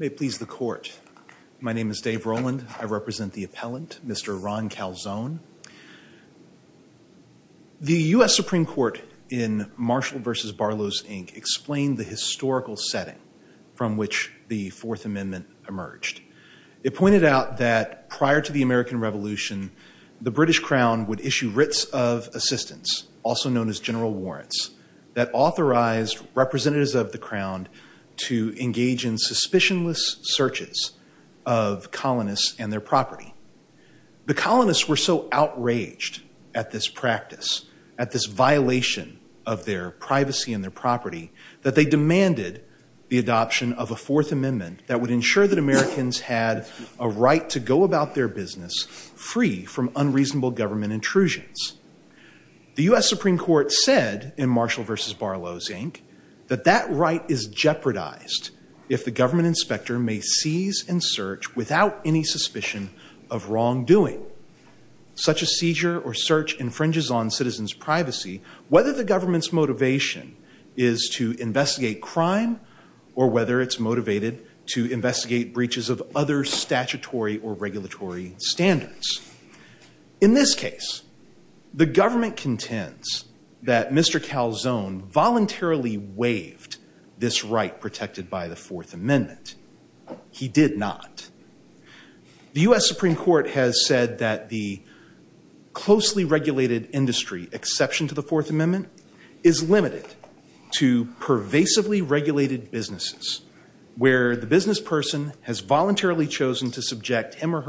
May it please the court. My name is Dave Roland. I represent the appellant, Mr. Ron Calzone. The U.S. Supreme Court in Marshall v. Barlow's Inc. explained the historical setting from which the Fourth Amendment emerged. It pointed out that prior to the American Revolution, the British Crown would issue writs of assistance, also known as general warrants, that authorized representatives of the crown to engage in suspicionless searches of colonists and their property. The colonists were so outraged at this practice, at this violation of their privacy and their property, that they demanded the adoption of a Fourth Amendment that would ensure that Americans had a right to go about their business free from unreasonable government intrusions. The U.S. Supreme Court said in Marshall v. Barlow's Inc. that that right is jeopardized if the government inspector may without any suspicion of wrongdoing. Such a seizure or search infringes on citizens' privacy, whether the government's motivation is to investigate crime or whether it's motivated to investigate breaches of other statutory or regulatory standards. In this case, the government contends that Mr. Calzone voluntarily waived this right protected by the Fourth Amendment. He did not. The U.S. Supreme Court has said that the closely regulated industry, exception to the Fourth Amendment, is limited to pervasively regulated businesses where the business person has voluntarily chosen to subject him or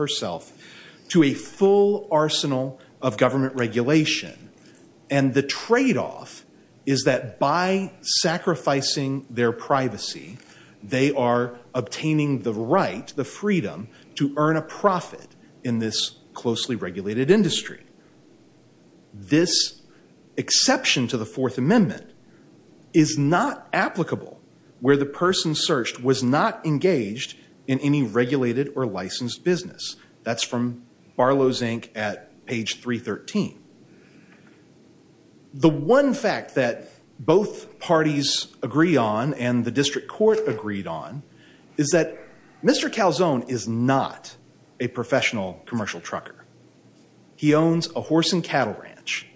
by sacrificing their privacy, they are obtaining the right, the freedom, to earn a profit in this closely regulated industry. This exception to the Fourth Amendment is not applicable where the person searched was not engaged in any regulated or licensed business. That's from Barlow's Inc. at both parties agree on and the district court agreed on is that Mr. Calzone is not a professional commercial trucker. He owns a horse and cattle ranch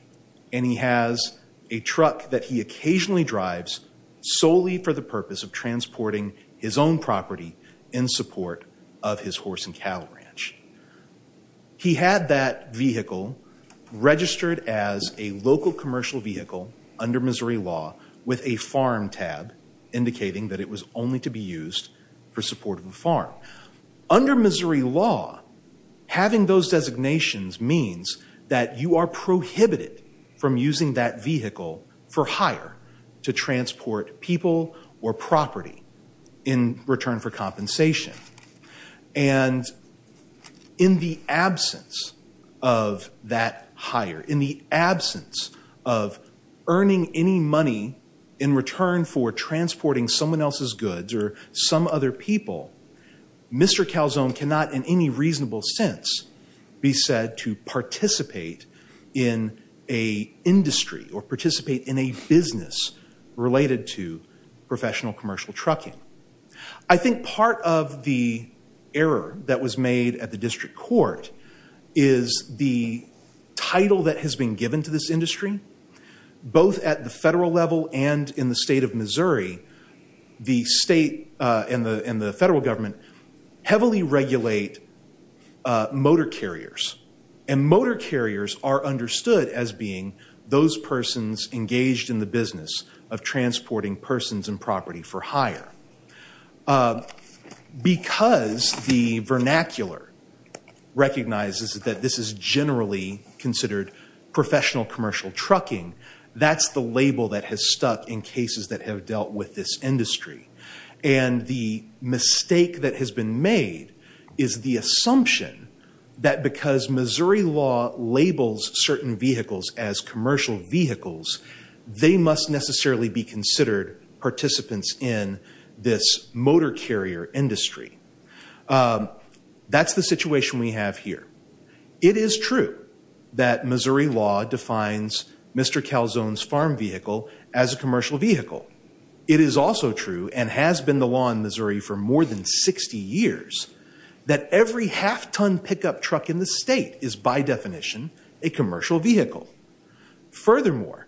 and he has a truck that he occasionally drives solely for the purpose of transporting his own property in support of his horse and cattle ranch. He had that vehicle registered as a local commercial vehicle under Missouri law with a farm tab indicating that it was only to be used for support of a farm. Under Missouri law, having those designations means that you are prohibited from using that vehicle for hire to transport people or property in return for compensation. And in the absence of that hire, in the absence of earning any money in return for transporting someone else's goods or some other people, Mr. Calzone cannot in professional commercial trucking. I think part of the error that was made at the district court is the title that has been given to this industry, both at the federal level and in the state of Missouri, the state and the federal government heavily regulate motor carriers. And motor carriers are persons and property for hire. Because the vernacular recognizes that this is generally considered professional commercial trucking, that's the label that has stuck in cases that have dealt with this industry. And the mistake that has been made is the assumption that because Missouri law labels certain vehicles as commercial vehicles, they must necessarily be considered participants in this motor carrier industry. That's the situation we have here. It is true that Missouri law defines Mr. Calzone's farm vehicle as a commercial vehicle. It is also true, and has been the law in Missouri for more than 60 years, that every half-ton pickup truck in the state is by definition a commercial vehicle. Furthermore,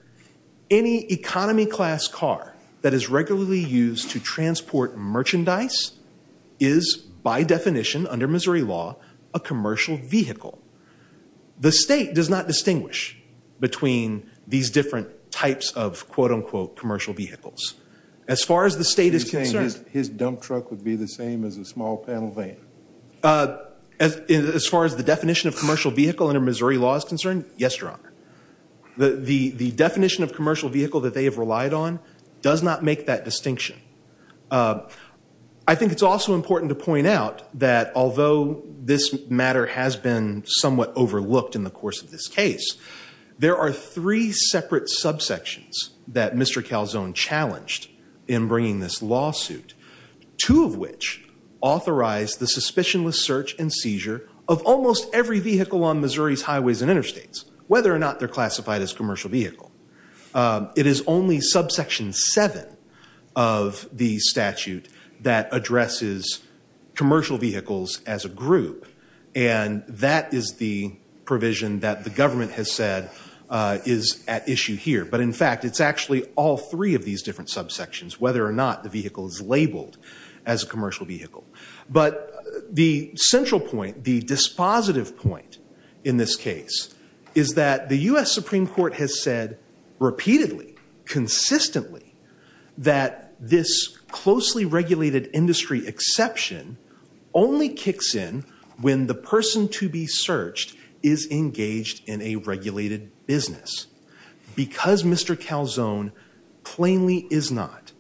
any economy class car that is regularly used to transport merchandise is by definition under Missouri law, a commercial vehicle. The state does not distinguish between these different types of quote-unquote commercial vehicles. As far as the state is concerned. His dump truck would be the same as a small panel van. As far as the definition of commercial vehicle under Missouri law is concerned, yes, Your Honor. The definition of commercial vehicle that they have relied on does not make that distinction. I think it's also important to point out that although this matter has been somewhat overlooked in the course of this case, there are three separate subsections that Mr. Calzone challenged in bringing this lawsuit. Two of which authorized the suspicionless search and seizure of almost every vehicle on Missouri's highways and interstates, whether or not they're classified as commercial vehicle. It is only subsection seven of the statute that addresses commercial vehicles as a group. And that is the provision that the government has said is at issue here. But in fact, it's actually all three of these different subsections, whether or not the vehicle is labeled as a commercial vehicle. But the central point, the dispositive point in this case, is that the U.S. Supreme Court has said repeatedly, consistently, that this closely regulated industry exception only kicks in when the person to be searched is engaged in a regulated business. Because Mr. Calzone plainly is not,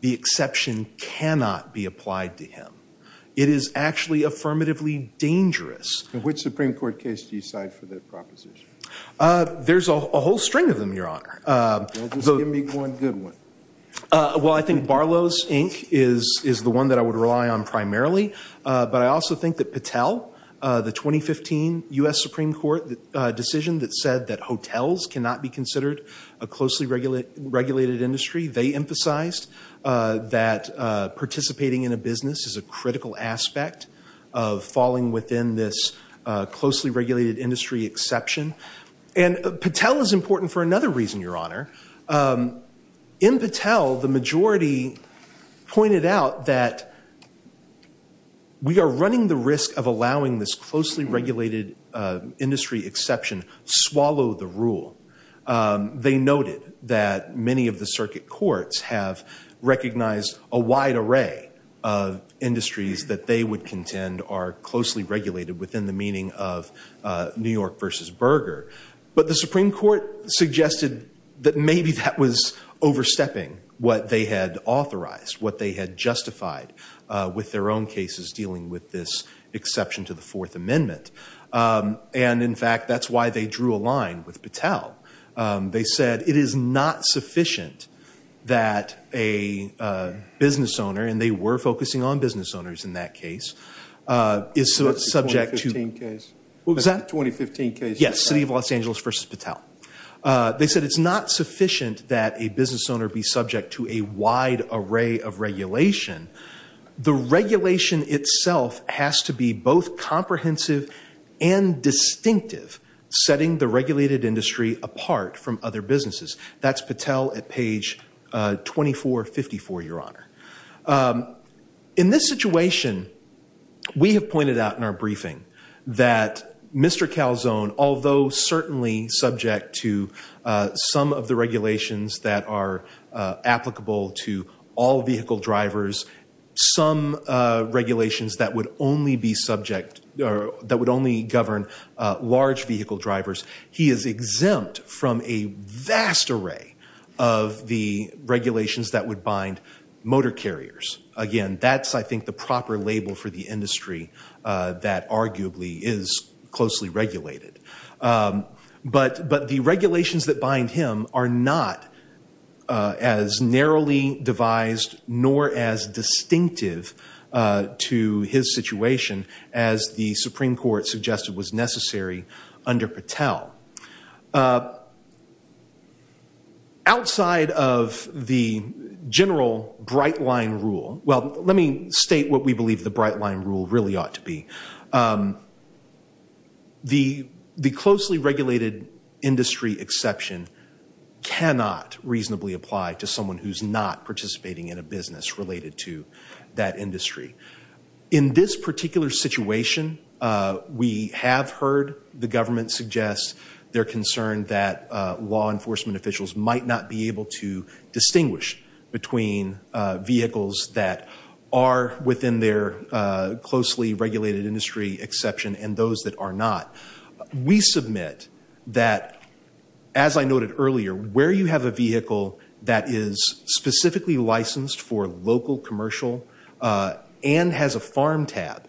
the exception cannot be applied to him. It is actually affirmatively dangerous. Which Supreme Court case do you side for that proposition? There's a whole string of them, Your Honor. Well, just give me one good one. Well, I think Barlow's Inc. is the one that I would rely on primarily. But I also think that Patel, the 2015 U.S. Supreme Court decision that said that hotels cannot be considered a closely regulated industry, they emphasized that participating in a business is a critical aspect of falling within this closely regulated industry exception. And Patel is important for another reason, Your Honor. In Patel, the majority pointed out that we are running the risk of allowing this closely regulated industry exception swallow the rule. They noted that many of the circuit courts have recognized a wide array of industries that they would contend are closely regulated within the meaning of New York versus Berger. But the Supreme Court suggested that maybe that was overstepping what they had authorized, what they had justified with their own cases dealing with this exception to the Fourth Amendment. And in fact, that's why they drew a line with Patel. They said it is not sufficient that a business owner, and they were focusing on business owners in that case, is subject to- The 2015 case. What was that? The 2015 case. Yes, City of Los Angeles versus Patel. They said it's not sufficient that a business owner be subject to a wide array of regulation. The regulation itself has to be both comprehensive and distinctive, setting the regulated industry apart from other businesses. That's Patel at page 2454, Your Honor. In this situation, we have pointed out in our briefing that Mr. Calzone, although certainly subject to some of the regulations that are applicable to all vehicle drivers, some regulations that would only govern large vehicle drivers, he is exempt from a vast array of the motor carriers. Again, that's, I think, the proper label for the industry that arguably is closely regulated. But the regulations that bind him are not as narrowly devised nor as distinctive to his situation as the Supreme Court suggested was necessary under Patel. Outside of the general bright line rule, well, let me state what we believe the bright line rule really ought to be. The closely regulated industry exception cannot reasonably apply to someone who's not participating in a business related to that industry. In this particular situation, we have heard the government suggest they're concerned that law enforcement officials might not be able to distinguish between vehicles that are within their closely regulated industry exception and those that are not. We submit that, as I noted earlier, where you have a vehicle that is specifically licensed for local commercial and has a farm tab,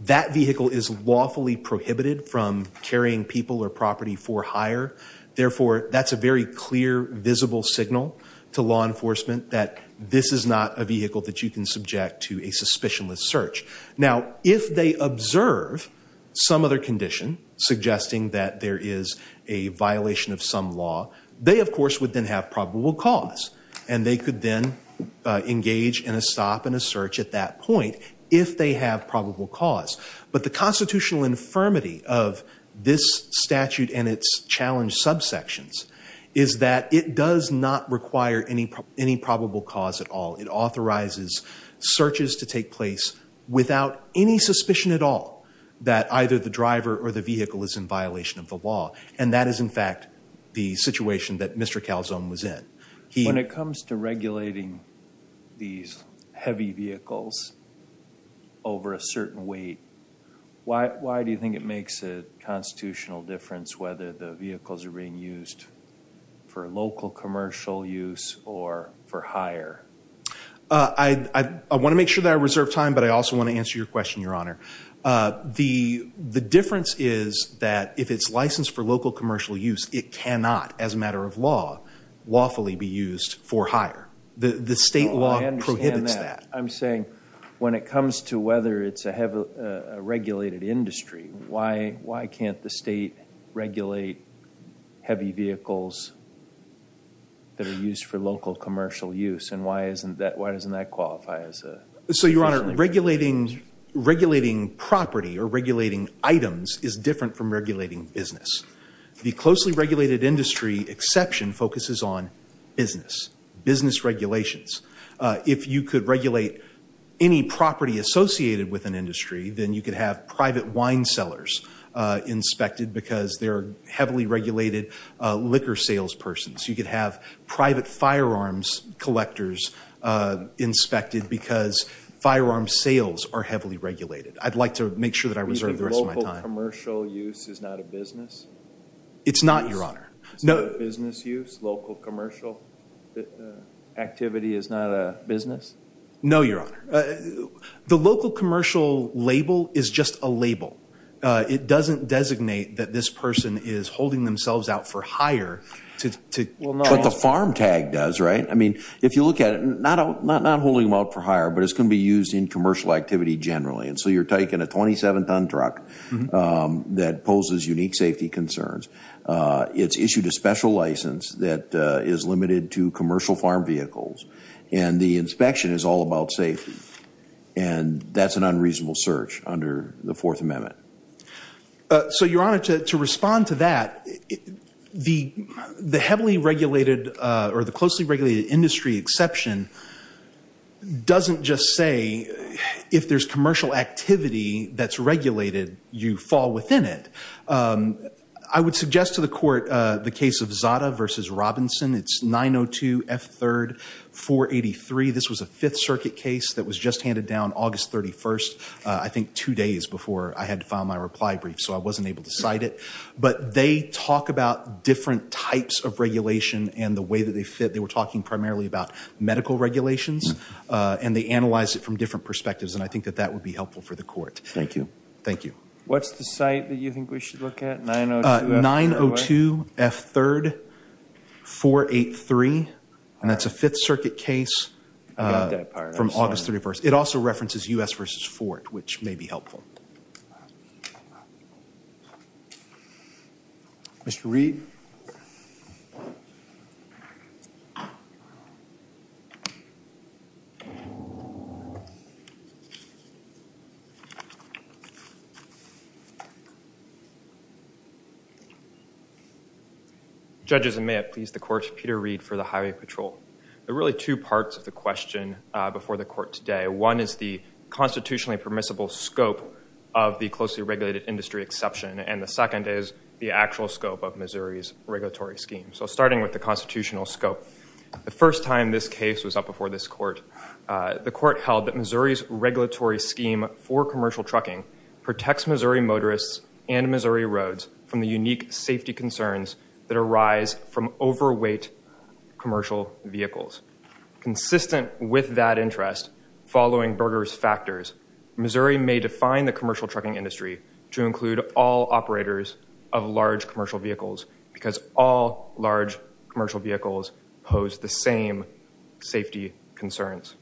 that vehicle is lawfully prohibited from carrying people or property for hire. Therefore, that's a very clear, visible signal to law enforcement that this is not a vehicle that you can subject to a suspicionless search. Now, if they observe some other condition suggesting that there is a violation of some law, they of course would then have probable cause and they could then engage in a stop and a search at that point if they have probable cause. But the constitutional infirmity of this statute and its challenge subsections is that it does not require any probable cause at all. It authorizes searches to take place without any suspicion at all that either the driver or the vehicle is in violation of the law. And that is in fact the situation that Mr. Calzone was in. When it comes to regulating these heavy vehicles over a certain weight, why do you think it makes a constitutional difference whether the vehicles are being used for local commercial use or for hire? I want to make sure that I reserve time, but I also want to answer your question, your honor. The difference is that if it's licensed for local commercial use, it cannot, as a matter of law, lawfully be used for hire. The state law prohibits that. I'm saying when it comes to whether it's a regulated industry, why can't the state regulate heavy vehicles that are used for local commercial use? And why isn't that, why doesn't that qualify as a... So your honor, regulating property or regulating items is different from regulating business. The closely regulated industry exception focuses on business, business regulations. If you could regulate any property associated with an industry, then you could have private wine cellars inspected because they're heavily regulated liquor sales persons. You could have private firearms collectors inspected because firearms sales are heavily regulated. I'd like to make sure that I reserve the rest of my time. You think local commercial use is not a business? It's not, your honor. It's not a business use? Local commercial activity is not a business? No, your honor. The local commercial label is just a label. It doesn't designate that this person is holding themselves out for hire to... What the farm tag does, right? I mean, if you look at it, not holding them out for hire, but it's going to be used in commercial activity generally. And so you're taking a 27 ton truck that poses unique safety concerns. It's issued a special license that is limited to commercial farm vehicles. And the inspection is all about safety. And that's an unreasonable search under the fourth amendment. So your honor, to respond to that, the heavily regulated or the closely regulated industry exception doesn't just say if there's commercial activity that's regulated, you fall within it. I would suggest to the court the case of Zada versus Robinson. It's 902 F3 483. This was a fifth circuit case that was just handed down August 31st, I think two days before I had to file my reply brief. So I wasn't able to cite it, but they talk about different types of regulation and the medical regulations and they analyze it from different perspectives. And I think that that would be helpful for the court. Thank you. Thank you. What's the site that you think we should look at? 902 F3 483. And that's a fifth circuit case from August 31st. It also references U.S. versus Ford, which may be helpful. Mr. Reed. Thank you. Judges, may I please the court, Peter Reed for the Highway Patrol. There are really two parts of the question before the court today. One is the constitutionally permissible scope of the closely regulated industry exception. And the second is the actual scope of Missouri's regulatory scheme. So starting with the constitutional scope, the first time this case was up before this court, the court held that Missouri's regulatory scheme for commercial trucking protects Missouri motorists and Missouri roads from the unique safety concerns that arise from overweight commercial vehicles. Consistent with that interest, following Berger's factors, Missouri may define the commercial trucking industry to include all operators of large commercial vehicles pose the same safety concerns.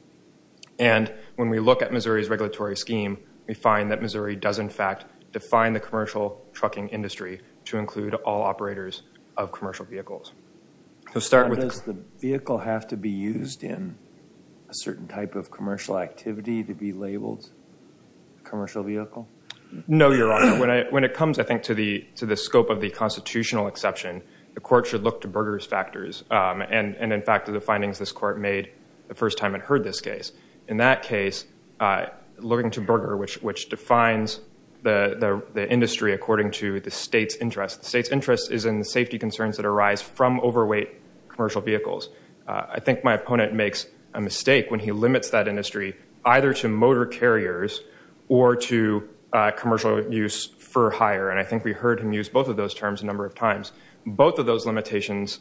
And when we look at Missouri's regulatory scheme, we find that Missouri does in fact define the commercial trucking industry to include all operators of commercial vehicles. Does the vehicle have to be used in a certain type of commercial activity to be labeled a commercial vehicle? No, Your Honor. When it comes, I think, to the scope of the constitutional exception, the court should look to Berger's factors. And in fact, the findings this court made the first time it heard this case. In that case, looking to Berger, which defines the industry according to the state's interest. The state's interest is in the safety concerns that arise from overweight commercial vehicles. I think my opponent makes a mistake when he limits that industry either to motor carriers or to commercial use for hire. And I think we heard him use both of those terms a number of times. Both of those limitations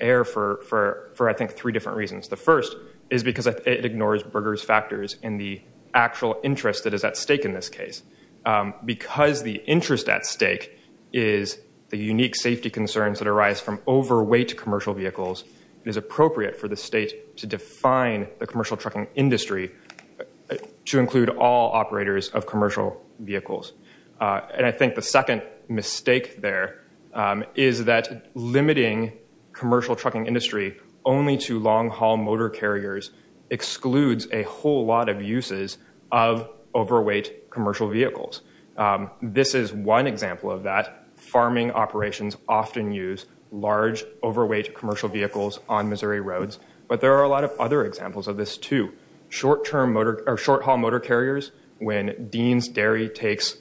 err for, I think, three different reasons. The first is because it ignores Berger's factors in the actual interest that is at stake in this case. Because the interest at stake is the unique safety concerns that arise from overweight commercial vehicles, it is appropriate for the state to define the commercial trucking industry to include all operators of commercial vehicles. And I think the second mistake there is that limiting commercial trucking industry only to long-haul motor carriers excludes a whole lot of uses of overweight commercial vehicles. This is one example of that. Farming operations often use large, overweight commercial vehicles on Missouri roads. But there are a lot of other examples of this, too. Short-haul motor carriers, when Dean's Dairy takes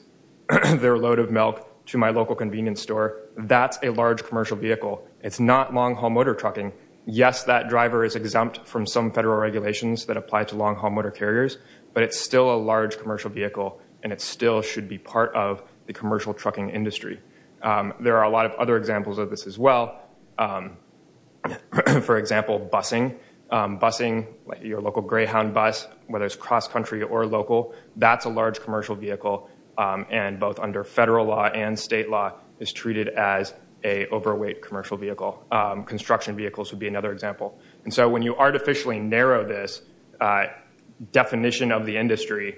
their load of milk to my local convenience store, that's a large commercial vehicle. It's not long-haul motor trucking. Yes, that driver is exempt from some federal regulations that apply to long-haul motor carriers, but it's still a large commercial vehicle and it still should be part of the commercial trucking industry. There are a lot of other examples of this as well. For example, busing. Busing, your local Greyhound bus, whether it's cross-country or local, that's a large commercial vehicle and both under federal law and state law is treated as a overweight commercial vehicle. Construction vehicles would be another example. And so when you artificially narrow this definition of the industry,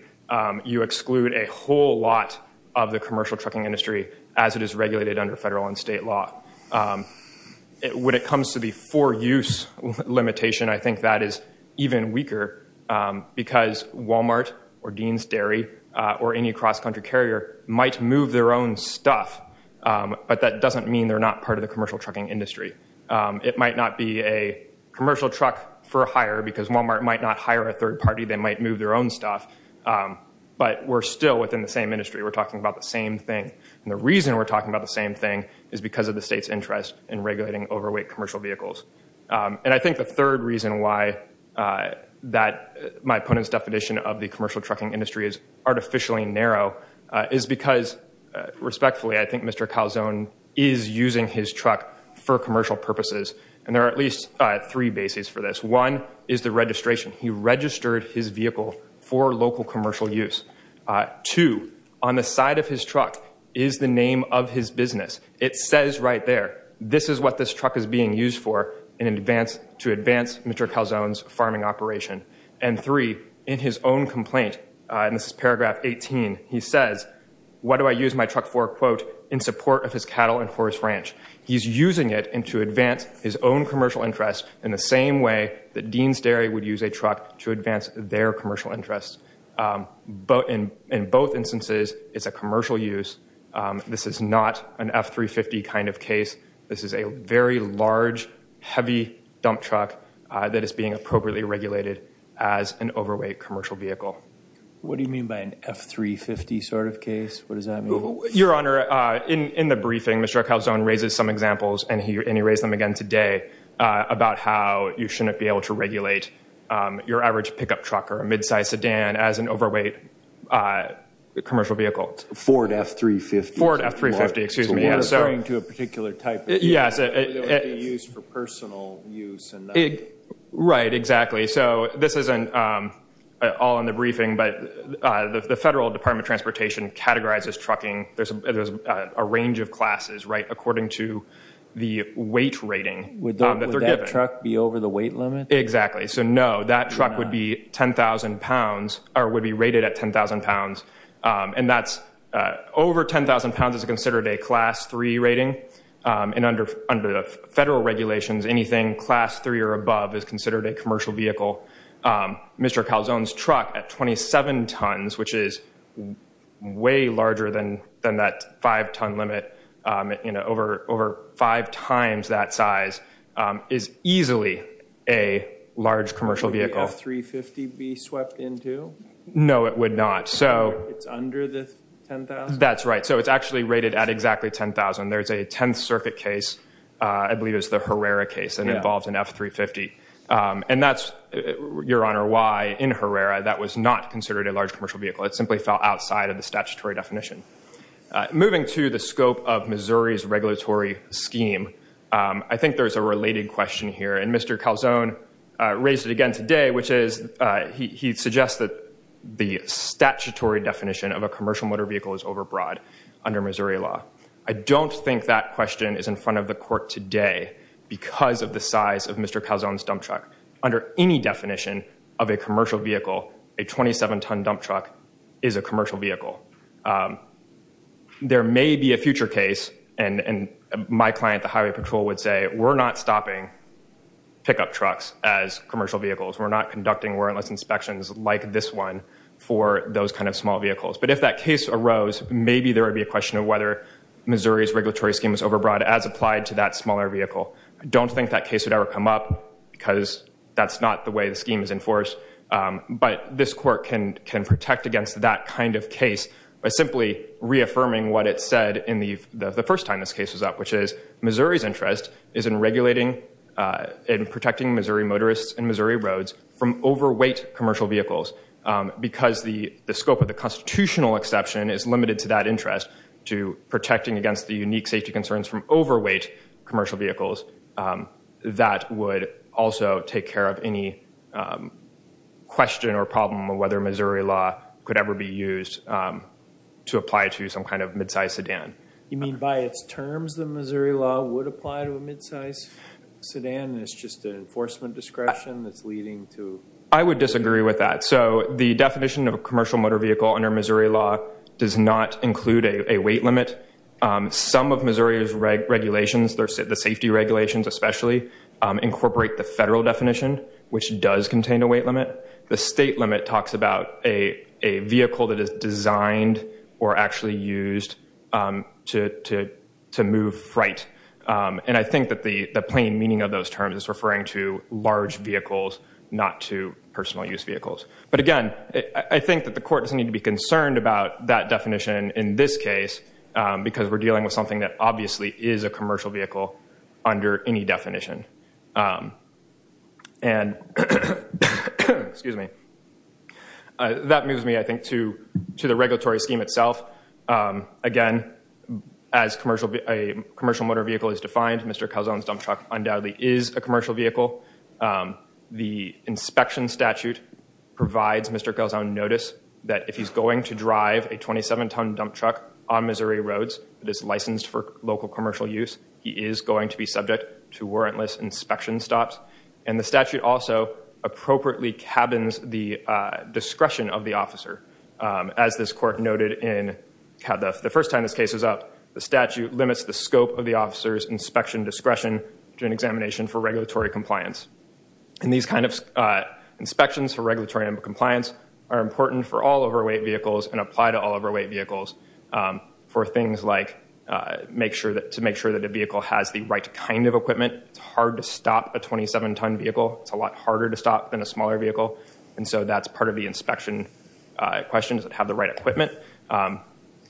you exclude a whole lot of the commercial trucking industry as it is regulated under federal and state law. When it comes to the for-use limitation, I think that is even weaker because Walmart or Dean's Dairy or any cross-country carrier might move their own stuff, but that doesn't mean they're not part of the commercial trucking industry. It might not be a commercial truck for hire because Walmart might not hire a third party. They might move their own stuff. But we're still within the same industry. We're the reason we're talking about the same thing is because of the state's interest in regulating overweight commercial vehicles. And I think the third reason why that my opponent's definition of the commercial trucking industry is artificially narrow is because, respectfully, I think Mr. Calzone is using his truck for commercial purposes. And there are at least three bases for this. One is the registration. He registered his vehicle for local commercial use. Two, on the side of his truck is the name of his business. It says right there, this is what this truck is being used for to advance Mr. Calzone's farming operation. And three, in his own complaint, and this is paragraph 18, he says, what do I use my truck for, quote, in support of his cattle and horse ranch. He's using it to advance his own commercial interests in the same way that Dean's This is not an F-350 kind of case. This is a very large, heavy dump truck that is being appropriately regulated as an overweight commercial vehicle. What do you mean by an F-350 sort of case? What does that mean? Your Honor, in the briefing, Mr. Calzone raises some examples, and he raised them again today, about how you shouldn't be able to regulate your average pickup truck or a Ford F-350. Ford F-350, excuse me. To a particular type. Yes. It would be used for personal use. Right, exactly. So this isn't all in the briefing, but the Federal Department of Transportation categorizes trucking. There's a range of classes, right, according to the weight rating. Would that truck be over the weight limit? Exactly. So no, that truck would be 10,000 pounds, or would be over 10,000 pounds is considered a class three rating. And under the Federal regulations, anything class three or above is considered a commercial vehicle. Mr. Calzone's truck at 27 tons, which is way larger than that five-ton limit, you know, over five times that size, is easily a large commercial vehicle. Would the F-350 be swept into? No, it would not. It's under 10,000? That's right. So it's actually rated at exactly 10,000. There's a 10th circuit case, I believe it was the Herrera case, that involved an F-350. And that's, Your Honor, why in Herrera, that was not considered a large commercial vehicle. It simply fell outside of the statutory definition. Moving to the scope of Missouri's regulatory scheme, I think there's a related question here. And Mr. Calzone raised it again today, which is, he suggests that the statutory definition of a commercial motor vehicle is overbroad under Missouri law. I don't think that question is in front of the court today because of the size of Mr. Calzone's dump truck. Under any definition of a commercial vehicle, a 27-ton dump truck is a commercial vehicle. There may be a future case, and my client, the Highway Patrol, would say, we're not stopping pickup trucks as commercial vehicles. We're not conducting warrantless inspections like this one for those kind of small vehicles. But if that case arose, maybe there would be a question of whether Missouri's regulatory scheme is overbroad as applied to that smaller vehicle. I don't think that case would ever come up because that's not the way the scheme is enforced. But this court can protect against that kind of case by simply reaffirming what it said the first time this case was up, which is, Missouri's interest is in regulating and protecting Missouri motorists and because the scope of the constitutional exception is limited to that interest, to protecting against the unique safety concerns from overweight commercial vehicles, that would also take care of any question or problem of whether Missouri law could ever be used to apply to some kind of mid-sized sedan. You mean by its terms, the Missouri law would apply to a mid-sized sedan? It's just an enforcement discretion that's leading to... I would disagree with that. So the definition of a commercial motor vehicle under Missouri law does not include a weight limit. Some of Missouri's regulations, the safety regulations especially, incorporate the federal definition, which does contain a weight limit. The state limit talks about a vehicle that is designed or actually used to move freight. And I think that the plain meaning of those terms is large vehicles, not to personal use vehicles. But again, I think that the court doesn't need to be concerned about that definition in this case because we're dealing with something that obviously is a commercial vehicle under any definition. And that moves me, I think, to the regulatory scheme itself. Again, as a commercial motor vehicle is defined, Mr. Commercial Vehicle, the inspection statute provides Mr. Gelsown notice that if he's going to drive a 27-ton dump truck on Missouri roads that is licensed for local commercial use, he is going to be subject to warrantless inspection stops. And the statute also appropriately cabins the discretion of the officer. As this court noted, the first time this case was up, the statute limits the scope of the officer's inspection discretion during examination for regulatory compliance. And these kind of inspections for regulatory and compliance are important for all overweight vehicles and apply to all overweight vehicles for things like to make sure that the vehicle has the right kind of equipment. It's hard to stop a 27-ton vehicle. It's a lot harder to stop than a smaller vehicle. And so that's part of the inspection questions that have the right equipment.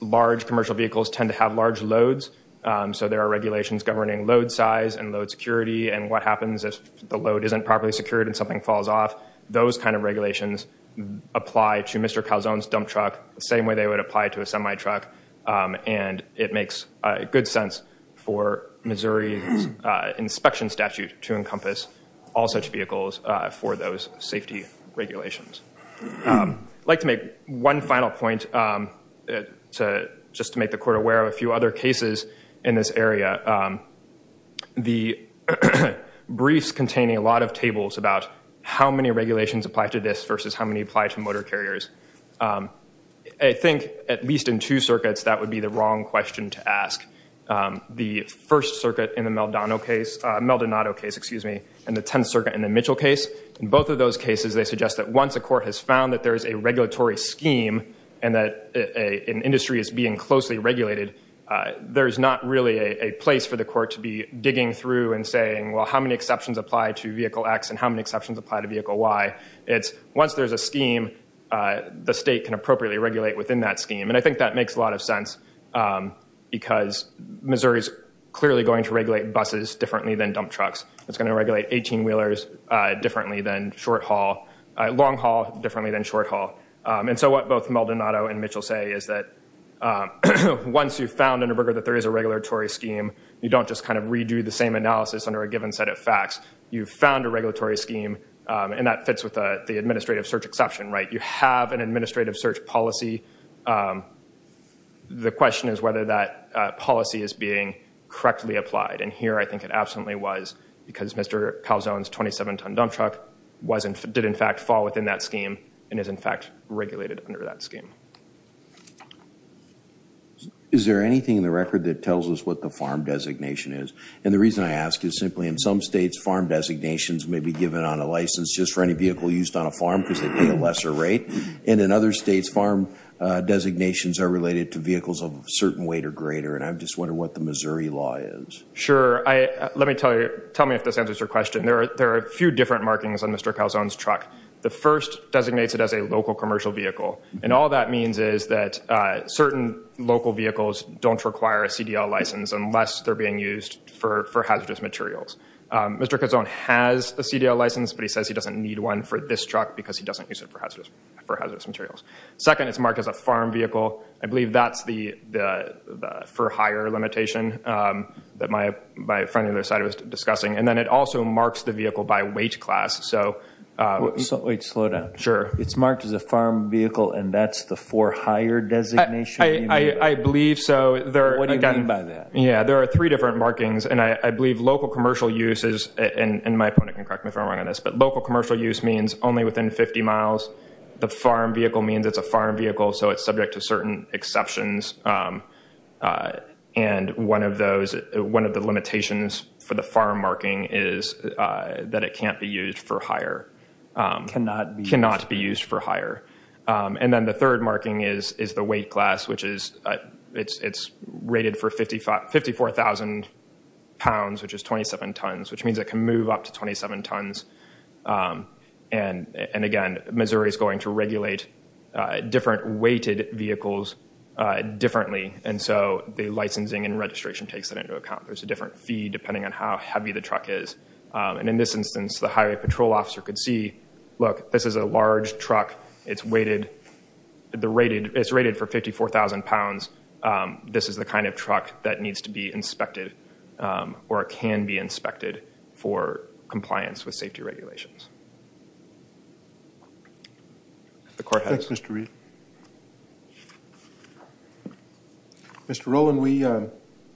Large commercial vehicles tend to have large loads. So there are regulations governing load size and load security and what happens if the load isn't properly secured and something falls off. Those kind of regulations apply to Mr. Gelsown's dump truck the same way they would apply to a semi truck. And it makes good sense for Missouri's inspection statute to encompass all such vehicles for those safety regulations. I'd like to make one final point just to make the court aware of a few other cases in this area. The briefs containing a lot of tables about how many regulations apply to this versus how many apply to motor carriers. I think at least in two circuits, that would be the wrong question to ask. The First Circuit in the Maldonado case and the Tenth Circuit in the Mitchell case. In both of those cases, they suggest that once a court has found that there is a regulatory scheme and that an industry is being closely regulated, there's not really a place for the court to be digging through and saying, well, how many exceptions apply to Vehicle X and how many exceptions apply to Vehicle Y? It's once there's a scheme, the state can appropriately regulate within that scheme. And I think that makes a lot of sense because Missouri's clearly going to regulate buses differently than dump trucks. It's going to regulate 18 wheelers differently than short haul, long haul differently than short haul. And so what both Maldonado and Mitchell say is that once you've found in a burger that there is a regulatory scheme, you don't just kind of redo the same analysis under a given set of facts. You've found a regulatory scheme and that fits with the administrative search exception, right? You have an administrative search policy. The question is whether that policy is being correctly applied. And here I think it absolutely was because Mr. Calzone's 27 ton dump truck did in fact fall within that scheme and is in fact regulated under that scheme. Is there anything in the record that tells us what the farm designation is? And the reason I ask is simply in some states, farm designations may be given on a license just for any vehicle used on a farm because they pay a lesser rate. And in other states, farm designations are related to vehicles of a certain weight or greater. And I just wonder what the Missouri law is. Sure. Let me tell you, tell me if this answers your question. There are a few different markings on Mr. Calzone's truck. The first designates it as a local commercial vehicle. And all that means is that certain local vehicles don't require a CDL license unless they're being used for hazardous materials. Mr. Calzone has a CDL license, but he says he doesn't need one for this truck because he doesn't use it for hazardous materials. Second, it's marked as a farm vehicle. I believe that's the for hire limitation that my friend on the other side was discussing. And then it also marks the vehicle by weight class. So wait, slow down. Sure. It's marked as a farm vehicle and that's the for hire designation? I believe so. What do you mean by that? Yeah, there are three different markings. And I believe local commercial use is, and my opponent can correct me if I'm wrong on this, but local commercial use means only within 50 miles. The farm vehicle means it's a farm vehicle, so it's subject to certain exceptions. And one of those, one of the limitations for the farm marking is that it can't be used for hire. Cannot be. Cannot be used for hire. And then the third marking is the weight class, which is, it's rated for 54,000 pounds, which is 27 tons, which means it can move up to 27 tons. And again, Missouri is going to regulate different weighted vehicles differently. And so the licensing and registration takes that into account. There's a different fee depending on how heavy the truck is. And in this instance, the highway patrol officer could see, look, this is a large truck. It's weighted. It's rated for 54,000 pounds. This is the kind of truck that needs to be inspected or can be inspected for compliance with safety regulations. The court has. Thanks, Mr. Reed. Mr. Rowland, we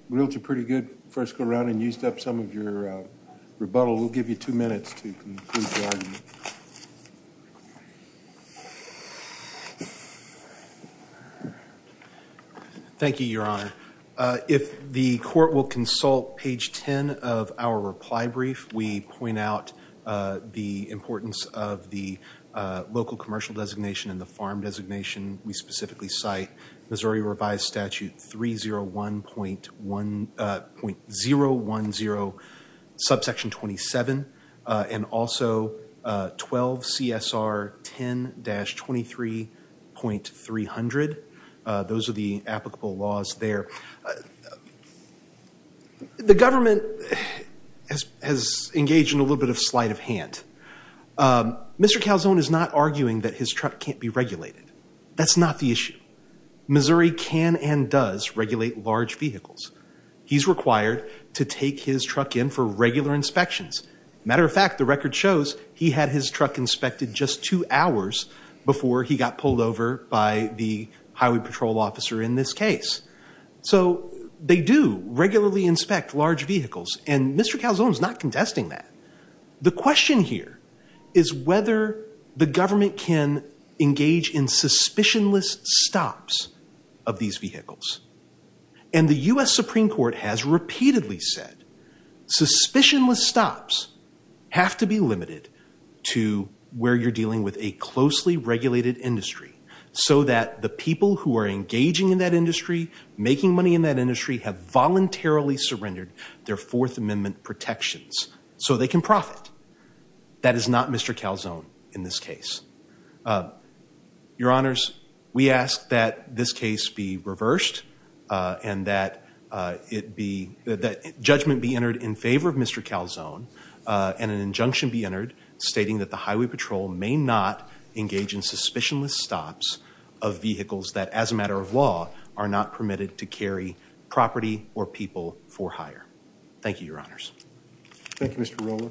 reeled you pretty good first go around and used up some of your rebuttal. We'll give you two minutes to conclude the argument. Thank you, Your Honor. If the court will consult page 10 of our reply brief, we point out the importance of the local commercial designation and the farm designation. We specifically cite Missouri Revised Statute 301.010, subsection 27, and also 12 CSR 10-23.300. Those are the applicable laws there. The government has engaged in a little bit of sleight of hand. Mr. Calzone is not arguing that his truck can't be regulated. That's not the issue. Missouri can and does regulate large vehicles. He's required to take his truck in for regular inspections. Matter of fact, the record shows he had his truck inspected just two hours before he got pulled over by the highway patrol officer in this case. So they do regularly inspect large vehicles and Mr. Calzone is not contesting that. The question here is whether the government can engage in suspicionless stops of these vehicles. And the U.S. Supreme Court has repeatedly said suspicionless stops have to be limited to where you're dealing with a closely regulated industry so that the people who are engaging in that industry, making money in that industry, have voluntarily surrendered their Fourth Amendment protections so they can profit. That is not Mr. Calzone in this case. Your Honors, we ask that this case be reversed and that it be, that judgment be entered in favor of Mr. Calzone and an injunction be entered stating that the highway patrol may not engage in suspicionless stops of vehicles that as a matter of law are not permitted to carry property or people for hire. Thank you, Your Honors. Thank you, Mr. Rolla.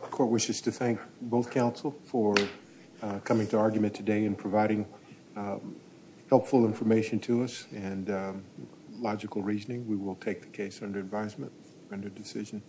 Court wishes to thank both counsel for coming to argument today and providing helpful information to us and logical reasoning. We will take the case under advisement, under decision.